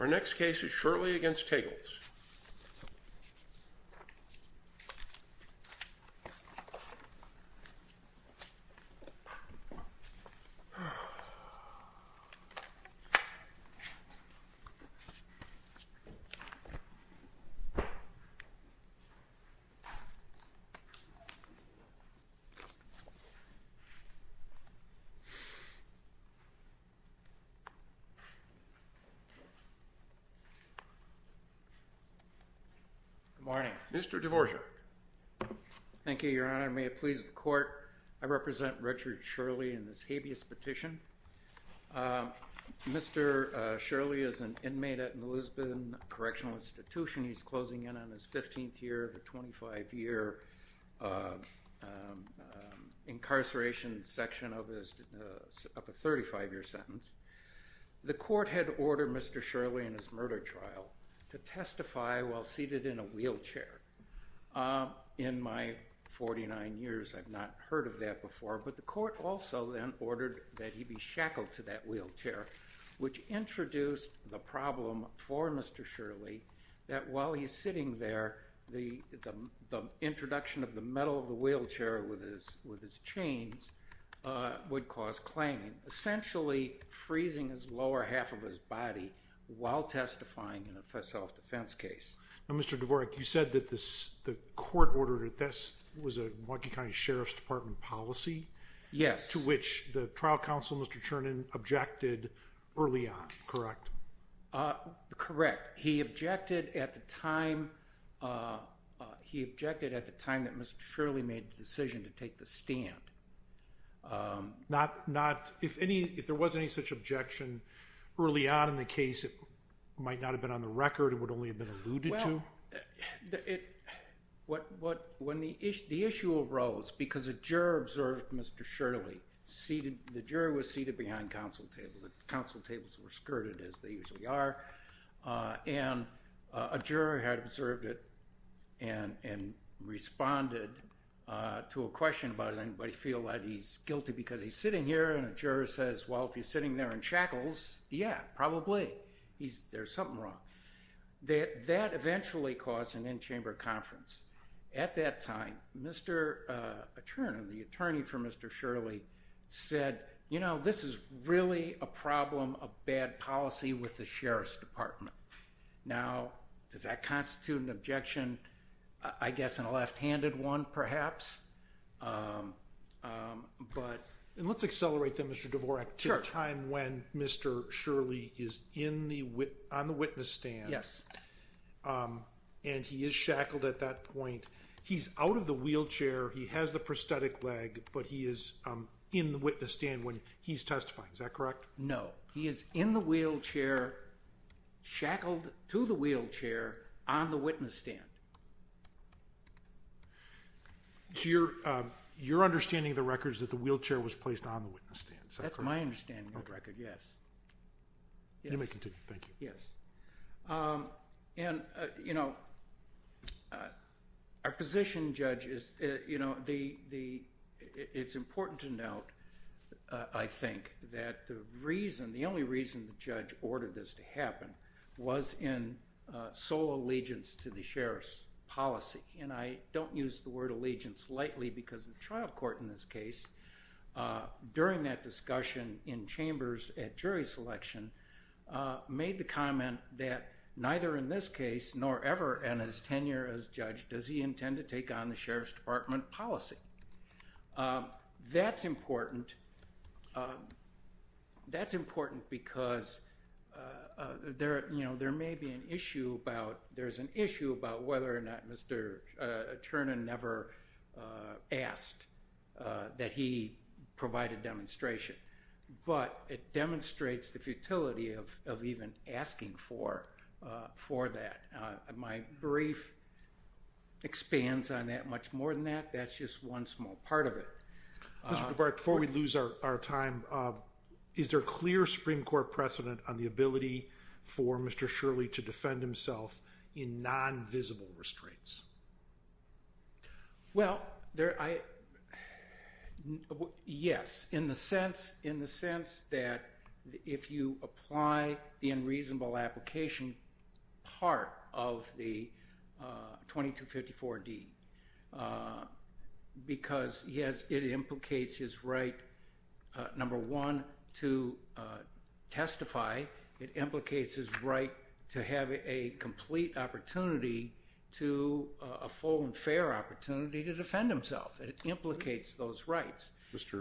Our next case is Shirley v. Tegels. Good morning. Mr. Dvorak. Thank you, Your Honor. May it please the Court, I represent Richard Shirley in this habeas petition. Mr. Shirley is an inmate at an Elizabethan correctional institution. He's closing in on his 15th year of a 25-year incarceration section of a 35-year sentence. The Court had ordered Mr. Shirley in his murder trial to testify while seated in a wheelchair. In my 49 years, I've not heard of that before, but the Court also then ordered that he be shackled to that wheelchair, which introduced the problem for Mr. Shirley that while he's sitting there, the introduction of the metal of the wheelchair with his chains would cause clanging, essentially freezing his lower half of his body while testifying in a self-defense case. Now, Mr. Dvorak, you said that the Court ordered it. That was a Milwaukee County Sheriff's Department policy? Yes. As to which the trial counsel, Mr. Chernin, objected early on, correct? Correct. He objected at the time that Mr. Shirley made the decision to take the stand. If there was any such objection early on in the case, it might not have been on the record, it would only have been alluded to? The issue arose because a juror observed Mr. Shirley. The juror was seated behind counsel tables. The counsel tables were skirted, as they usually are. And a juror had observed it and responded to a question about, does anybody feel that he's guilty because he's sitting here? And a juror says, well, if he's sitting there and shackles, yeah, probably. There's something wrong. That eventually caused an in-chamber conference. At that time, Mr. Chernin, the attorney for Mr. Shirley, said, you know, this is really a problem of bad policy with the Sheriff's Department. Now, does that constitute an objection? I guess in a left-handed one, perhaps. And let's accelerate that, Mr. Dvorak, to the time when Mr. Shirley is on the witness stand. Yes. And he is shackled at that point. He's out of the wheelchair. He has the prosthetic leg, but he is in the witness stand when he's testifying. Is that correct? No. He is in the wheelchair, shackled to the wheelchair, on the witness stand. So your understanding of the record is that the wheelchair was placed on the witness stand. Is that correct? That's my understanding of the record, yes. You may continue. Thank you. Yes. And, you know, our position, Judge, is, you know, it's important to note, I think, that the reason, the only reason the judge ordered this to happen was in sole allegiance to the Sheriff's policy. And I don't use the word allegiance lightly because the trial court in this case, during that discussion in chambers at jury selection, made the comment that neither in this case, nor ever in his tenure as judge, does he intend to take on the Sheriff's Department policy. That's important. That's important because, you know, there may be an issue about, there's an issue about whether or not Mr. Ternan never asked that he provide a demonstration. But it demonstrates the futility of even asking for that. My brief expands on that much more than that. That's just one small part of it. Mr. DeBark, before we lose our time, is there clear Supreme Court precedent on the ability for Mr. Shirley to defend himself in non-visible restraints? Well, there, I, yes. In the sense, in the sense that if you apply the unreasonable application part of the 2254 D, because he has, it implicates his right, number one, to testify. It implicates his right to have a complete opportunity to, a full and fair opportunity to defend himself. It implicates those rights.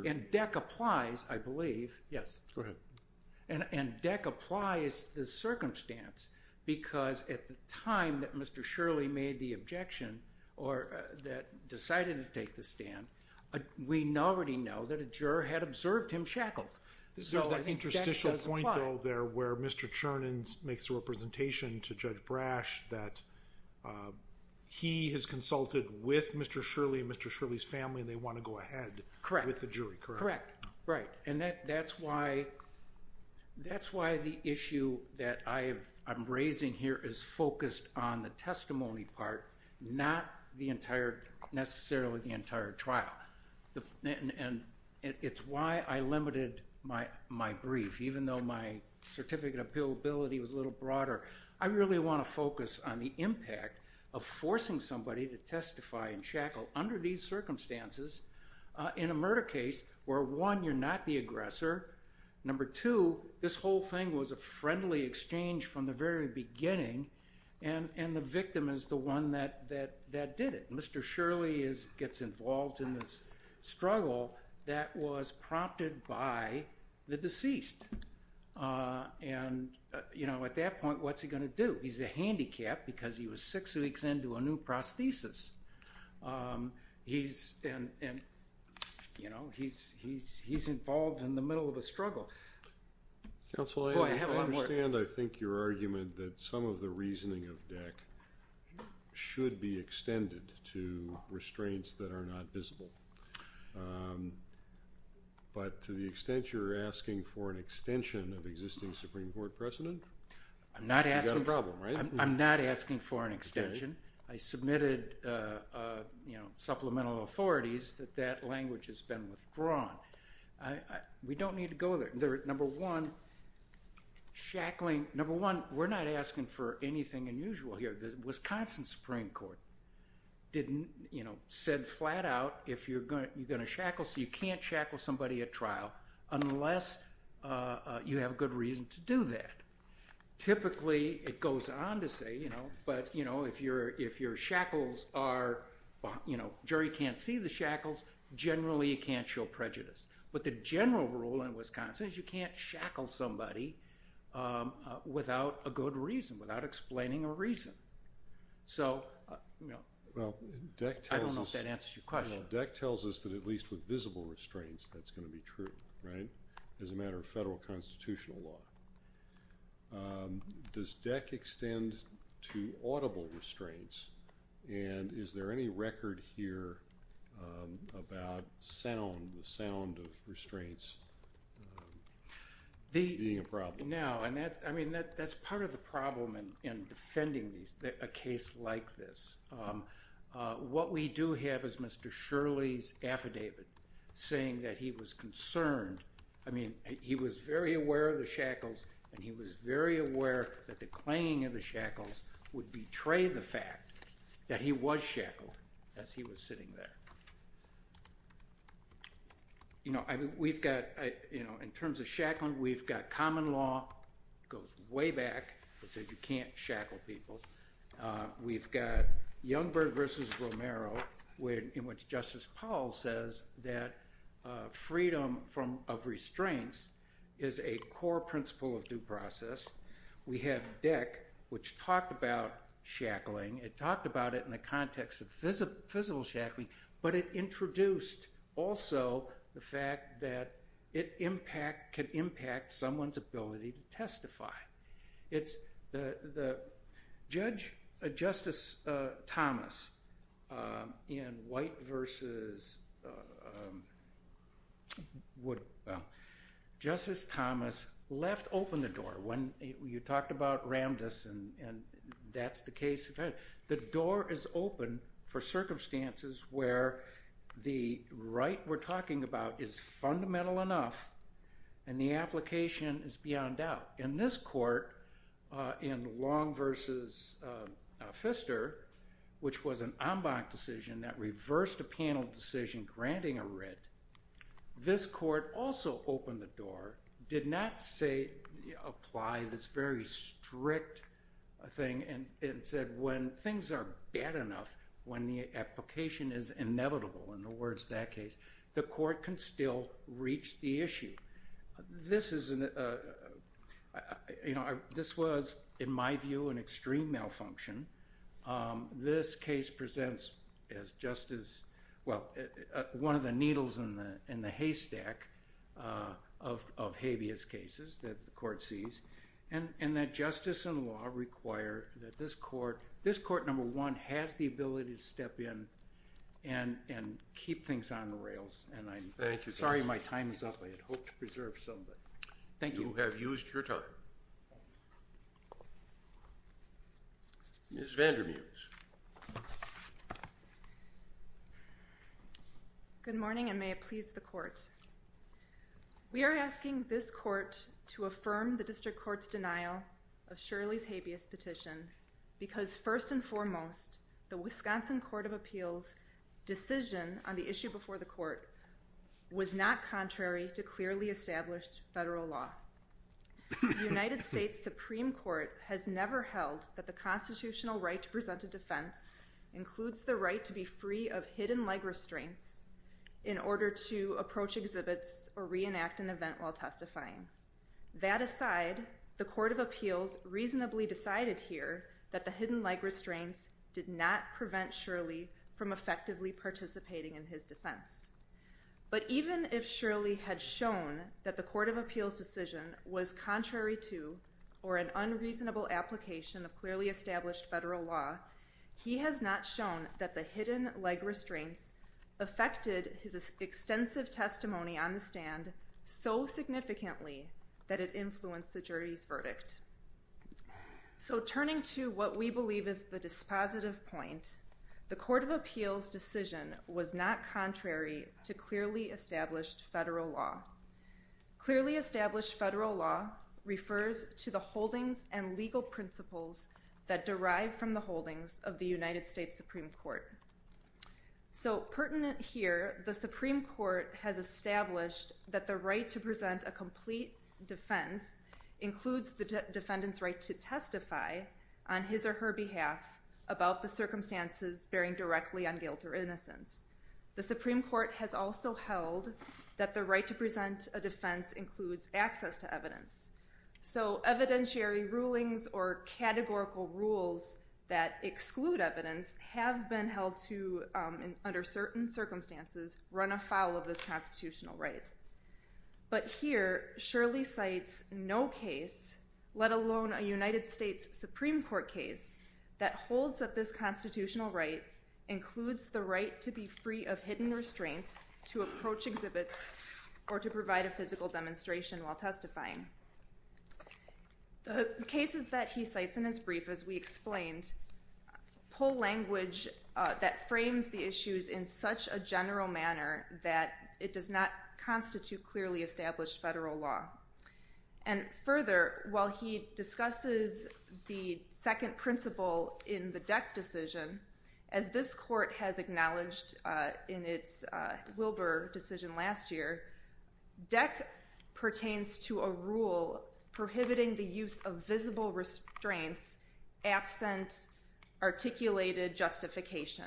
And DEC applies, I believe, yes. Go ahead. And DEC applies the circumstance because at the time that Mr. Shirley made the objection, or that decided to take the stand, we already know that a juror had observed him shackled. There's that interstitial point, though, there, where Mr. Chernin makes a representation to Judge Brash that he has consulted with Mr. Shirley and Mr. Shirley's family, and they want to go ahead with the jury, correct? Correct. Right. And that's why the issue that I'm raising here is focused on the testimony part, not the entire, necessarily the entire trial. And it's why I limited my brief, even though my certificate of appealability was a little broader. I really want to focus on the impact of forcing somebody to testify in shackle under these circumstances in a murder case where, one, you're not the aggressor. Number two, this whole thing was a friendly exchange from the very beginning, and the victim is the one that did it. Mr. Shirley gets involved in this struggle that was prompted by the deceased. And, you know, at that point, what's he going to do? He's a handicap because he was six weeks into a new prosthesis. He's, you know, he's involved in the middle of a struggle. Counsel, I understand, I think, your argument that some of the reasoning of DEC should be extended to restraints that are not visible. But to the extent you're asking for an extension of existing Supreme Court precedent, you've got a problem, right? I'm not asking for an extension. I submitted, you know, supplemental authorities that that language has been withdrawn. We don't need to go there. Number one, shackling, number one, we're not asking for anything unusual here. The Wisconsin Supreme Court didn't, you know, said flat out if you're going to shackle, so you can't shackle somebody at trial unless you have a good reason to do that. Typically, it goes on to say, you know, but, you know, if your shackles are, you know, jury can't see the shackles, generally you can't show prejudice. But the general rule in Wisconsin is you can't shackle somebody without a good reason, without explaining a reason. So, you know, I don't know if that answers your question. Well, DEC tells us that at least with visible restraints that's going to be true, right, as a matter of federal constitutional law. Does DEC extend to audible restraints? And is there any record here about sound, the sound of restraints being a problem? No, and that's part of the problem in defending a case like this. What we do have is Mr. Shirley's affidavit saying that he was concerned. I mean, he was very aware of the shackles, and he was very aware that the clinging of the shackles would betray the fact that he was shackled as he was sitting there. You know, we've got, you know, in terms of shackling, we've got common law goes way back that said you can't shackle people. We've got Youngberg v. Romero in which Justice Powell says that freedom of restraints is a core principle of due process. We have DEC, which talked about shackling. It talked about it in the context of physical shackling, but it introduced also the fact that it can impact someone's ability to testify. It's the judge, Justice Thomas, in White v. Wood, Justice Thomas left open the door. When you talked about Ramdis, and that's the case, the door is open for circumstances where the right we're talking about is fundamental enough, and the application is beyond doubt. In this court, in Long v. Pfister, which was an en banc decision that reversed a panel decision granting a writ, this court also opened the door, did not say, apply this very strict thing, and said when things are bad enough, when the application is inevitable, in the words of that case, the court can still reach the issue. This was, in my view, an extreme malfunction. This case presents as justice, well, one of the needles in the haystack of habeas cases that the court sees, and that justice and law require that this court, this court, number one, has the ability to step in and keep things on the rails. And I'm sorry my time is up. I had hoped to preserve some, but thank you. You have used your time. Ms. Vandermuse. We are asking this court to affirm the district court's denial of Shirley's habeas petition because, first and foremost, the Wisconsin Court of Appeals decision on the issue before the court was not contrary to clearly established federal law. The United States Supreme Court has never held that the constitutional right to present a defense includes the right to be free of hidden leg restraints in order to approach exhibits or reenact an event while testifying. That aside, the Court of Appeals reasonably decided here that the hidden leg restraints did not prevent Shirley from effectively participating in his defense. But even if Shirley had shown that the Court of Appeals decision was contrary to or an unreasonable application of clearly established federal law, he has not shown that the hidden leg restraints affected his extensive testimony on the stand so significantly that it influenced the jury's verdict. So turning to what we believe is the dispositive point, the Court of Appeals decision was not contrary to clearly established federal law. Clearly established federal law refers to the holdings and legal principles that derive from the holdings of the United States Supreme Court. So pertinent here, the Supreme Court has established that the right to present a complete defense includes the defendant's right to testify on his or her behalf about the circumstances bearing directly on guilt or innocence. The Supreme Court has also held that the right to present a defense includes access to evidence. So evidentiary rulings or categorical rules that exclude evidence have been held to, under certain circumstances, run afoul of this constitutional right. But here, Shirley cites no case, let alone a United States Supreme Court case, that holds that this constitutional right includes the right to be free of hidden restraints, to approach exhibits, or to provide a physical demonstration while testifying. The cases that he cites in his brief, as we explained, pull language that frames the issues in such a general manner that it does not constitute clearly established federal law. And further, while he discusses the second principle in the Deck decision, as this court has acknowledged in its Wilbur decision last year, Deck pertains to a rule prohibiting the use of visible restraints absent articulated justification.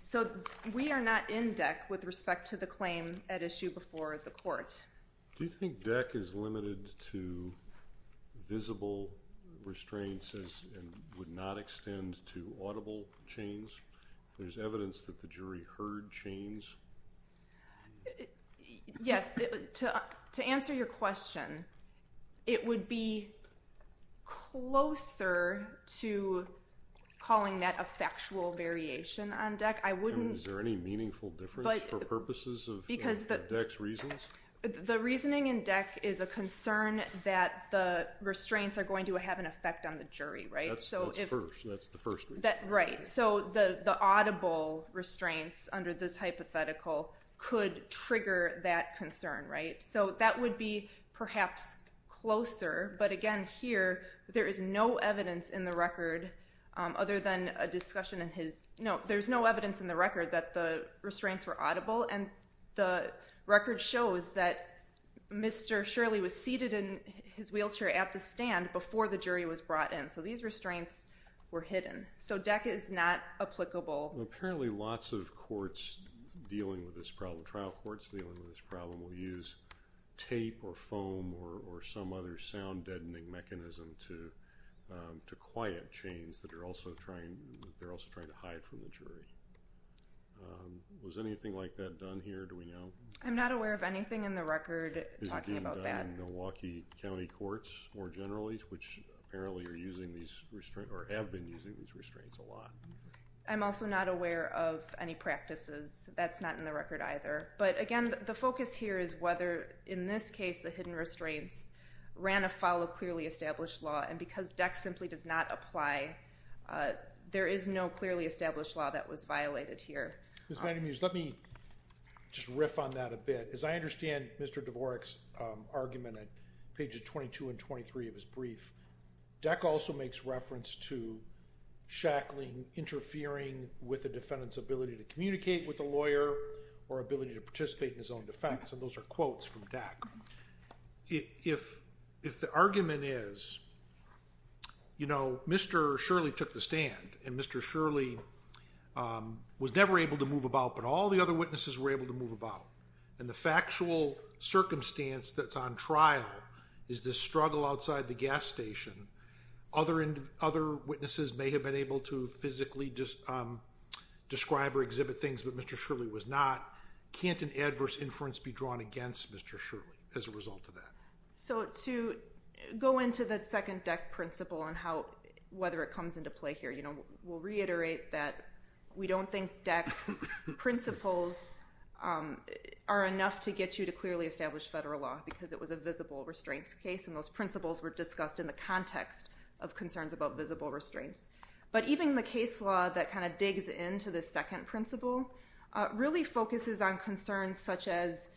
So we are not in Deck with respect to the claim at issue before the court. Do you think Deck is limited to visible restraints and would not extend to audible chains? There's evidence that the jury heard chains. Yes. To answer your question, it would be closer to calling that a factual variation on Deck. Is there any meaningful difference for purposes of Deck's reasons? The reasoning in Deck is a concern that the restraints are going to have an effect on the jury, right? That's the first reason. Right. So the audible restraints under this hypothetical could trigger that concern, right? So that would be perhaps closer. But again, here, there is no evidence in the record other than a discussion in his – no, there's no evidence in the record that the restraints were audible. And the record shows that Mr. Shirley was seated in his wheelchair at the stand before the jury was brought in. So these restraints were hidden. So Deck is not applicable. Apparently, lots of courts dealing with this problem, trial courts dealing with this problem, will use tape or foam or some other sound-deadening mechanism to quiet chains that they're also trying to hide from the jury. Was anything like that done here? Do we know? I'm not aware of anything in the record talking about that. Is it being done in Milwaukee County courts more generally, which apparently are using these restraints or have been using these restraints a lot? I'm also not aware of any practices. That's not in the record either. But again, the focus here is whether, in this case, the hidden restraints ran afoul of clearly established law. And because Deck simply does not apply, there is no clearly established law that was violated here. Ms. VandenMees, let me just riff on that a bit. As I understand Mr. Dvorak's argument at pages 22 and 23 of his brief, Deck also makes reference to shackling interfering with a defendant's ability to communicate with a lawyer or ability to participate in his own defense. And those are quotes from Deck. If the argument is, you know, Mr. Shirley took the stand, and Mr. Shirley was never able to move about, but all the other witnesses were able to move about, and the factual circumstance that's on trial is this struggle outside the gas station, other witnesses may have been able to physically describe or exhibit things, but Mr. Shirley was not, can't an adverse inference be drawn against Mr. Shirley as a result of that? So to go into the second Deck principle and whether it comes into play here, we'll reiterate that we don't think Deck's principles are enough to get you to clearly establish federal law, because it was a visible restraints case, and those principles were discussed in the context of concerns about visible restraints. But even the case law that kind of digs into this second principle really focuses on concerns such as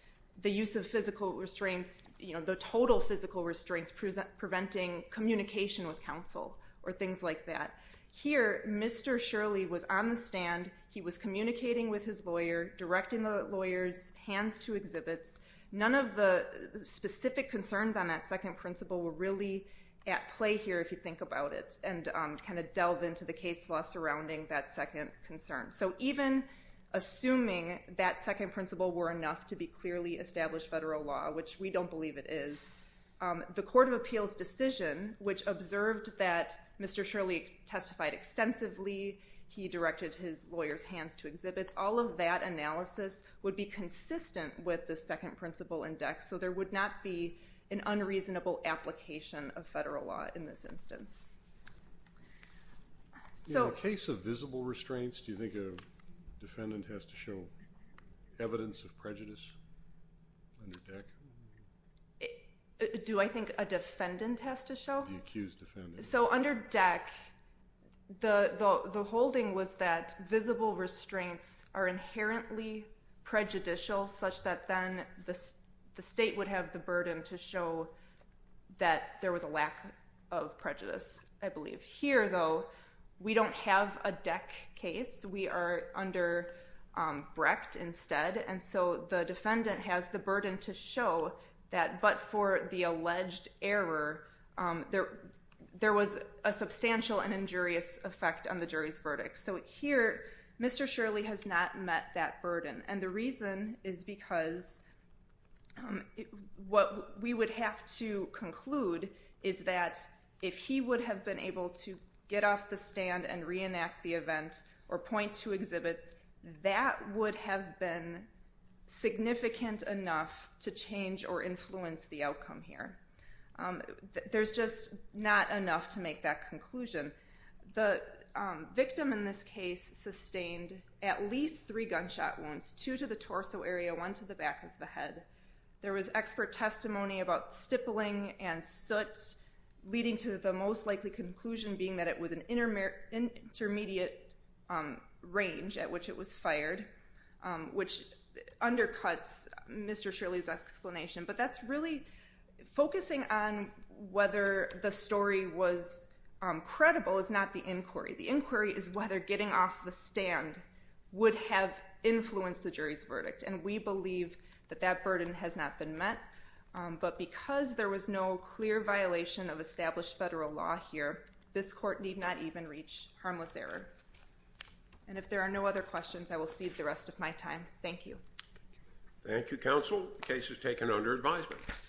the use of physical restraints, you know, the total physical restraints preventing communication with counsel or things like that. Here, Mr. Shirley was on the stand, he was communicating with his lawyer, directing the lawyer's hands to exhibits. None of the specific concerns on that second principle were really at play here, if you think about it, and kind of delve into the case law surrounding that second concern. So even assuming that second principle were enough to be clearly established federal law, which we don't believe it is, the Court of Appeals decision, which observed that Mr. Shirley testified extensively, he directed his lawyer's hands to exhibits, all of that analysis would be consistent with the second principle in Deck, so there would not be an unreasonable application of federal law in this instance. In the case of visible restraints, do you think a defendant has to show evidence of prejudice under Deck? Do I think a defendant has to show? The accused defendant. So under Deck, the holding was that visible restraints are inherently prejudicial, such that then the state would have the burden to show that there was a lack of prejudice, I believe. Here, though, we don't have a Deck case, we are under Brecht instead, and so the defendant has the burden to show that, but for the alleged error, there was a substantial and injurious effect on the jury's verdict. So here, Mr. Shirley has not met that burden, and the reason is because what we would have to conclude is that if he would have been able to get off the stand and reenact the event or point to exhibits, that would have been significant enough to change or influence the outcome here. There's just not enough to make that conclusion. The victim in this case sustained at least three gunshot wounds, two to the torso area, one to the back of the head. There was expert testimony about stippling and soot, leading to the most likely conclusion being that it was an intermediate range at which it was fired, which undercuts Mr. Shirley's explanation, but that's really focusing on whether the story was credible is not the inquiry. The inquiry is whether getting off the stand would have influenced the jury's verdict, and we believe that that burden has not been met, but because there was no clear violation of established federal law here, this court need not even reach harmless error. And if there are no other questions, I will cede the rest of my time. Thank you. Thank you, Counsel. The case is taken under advisement.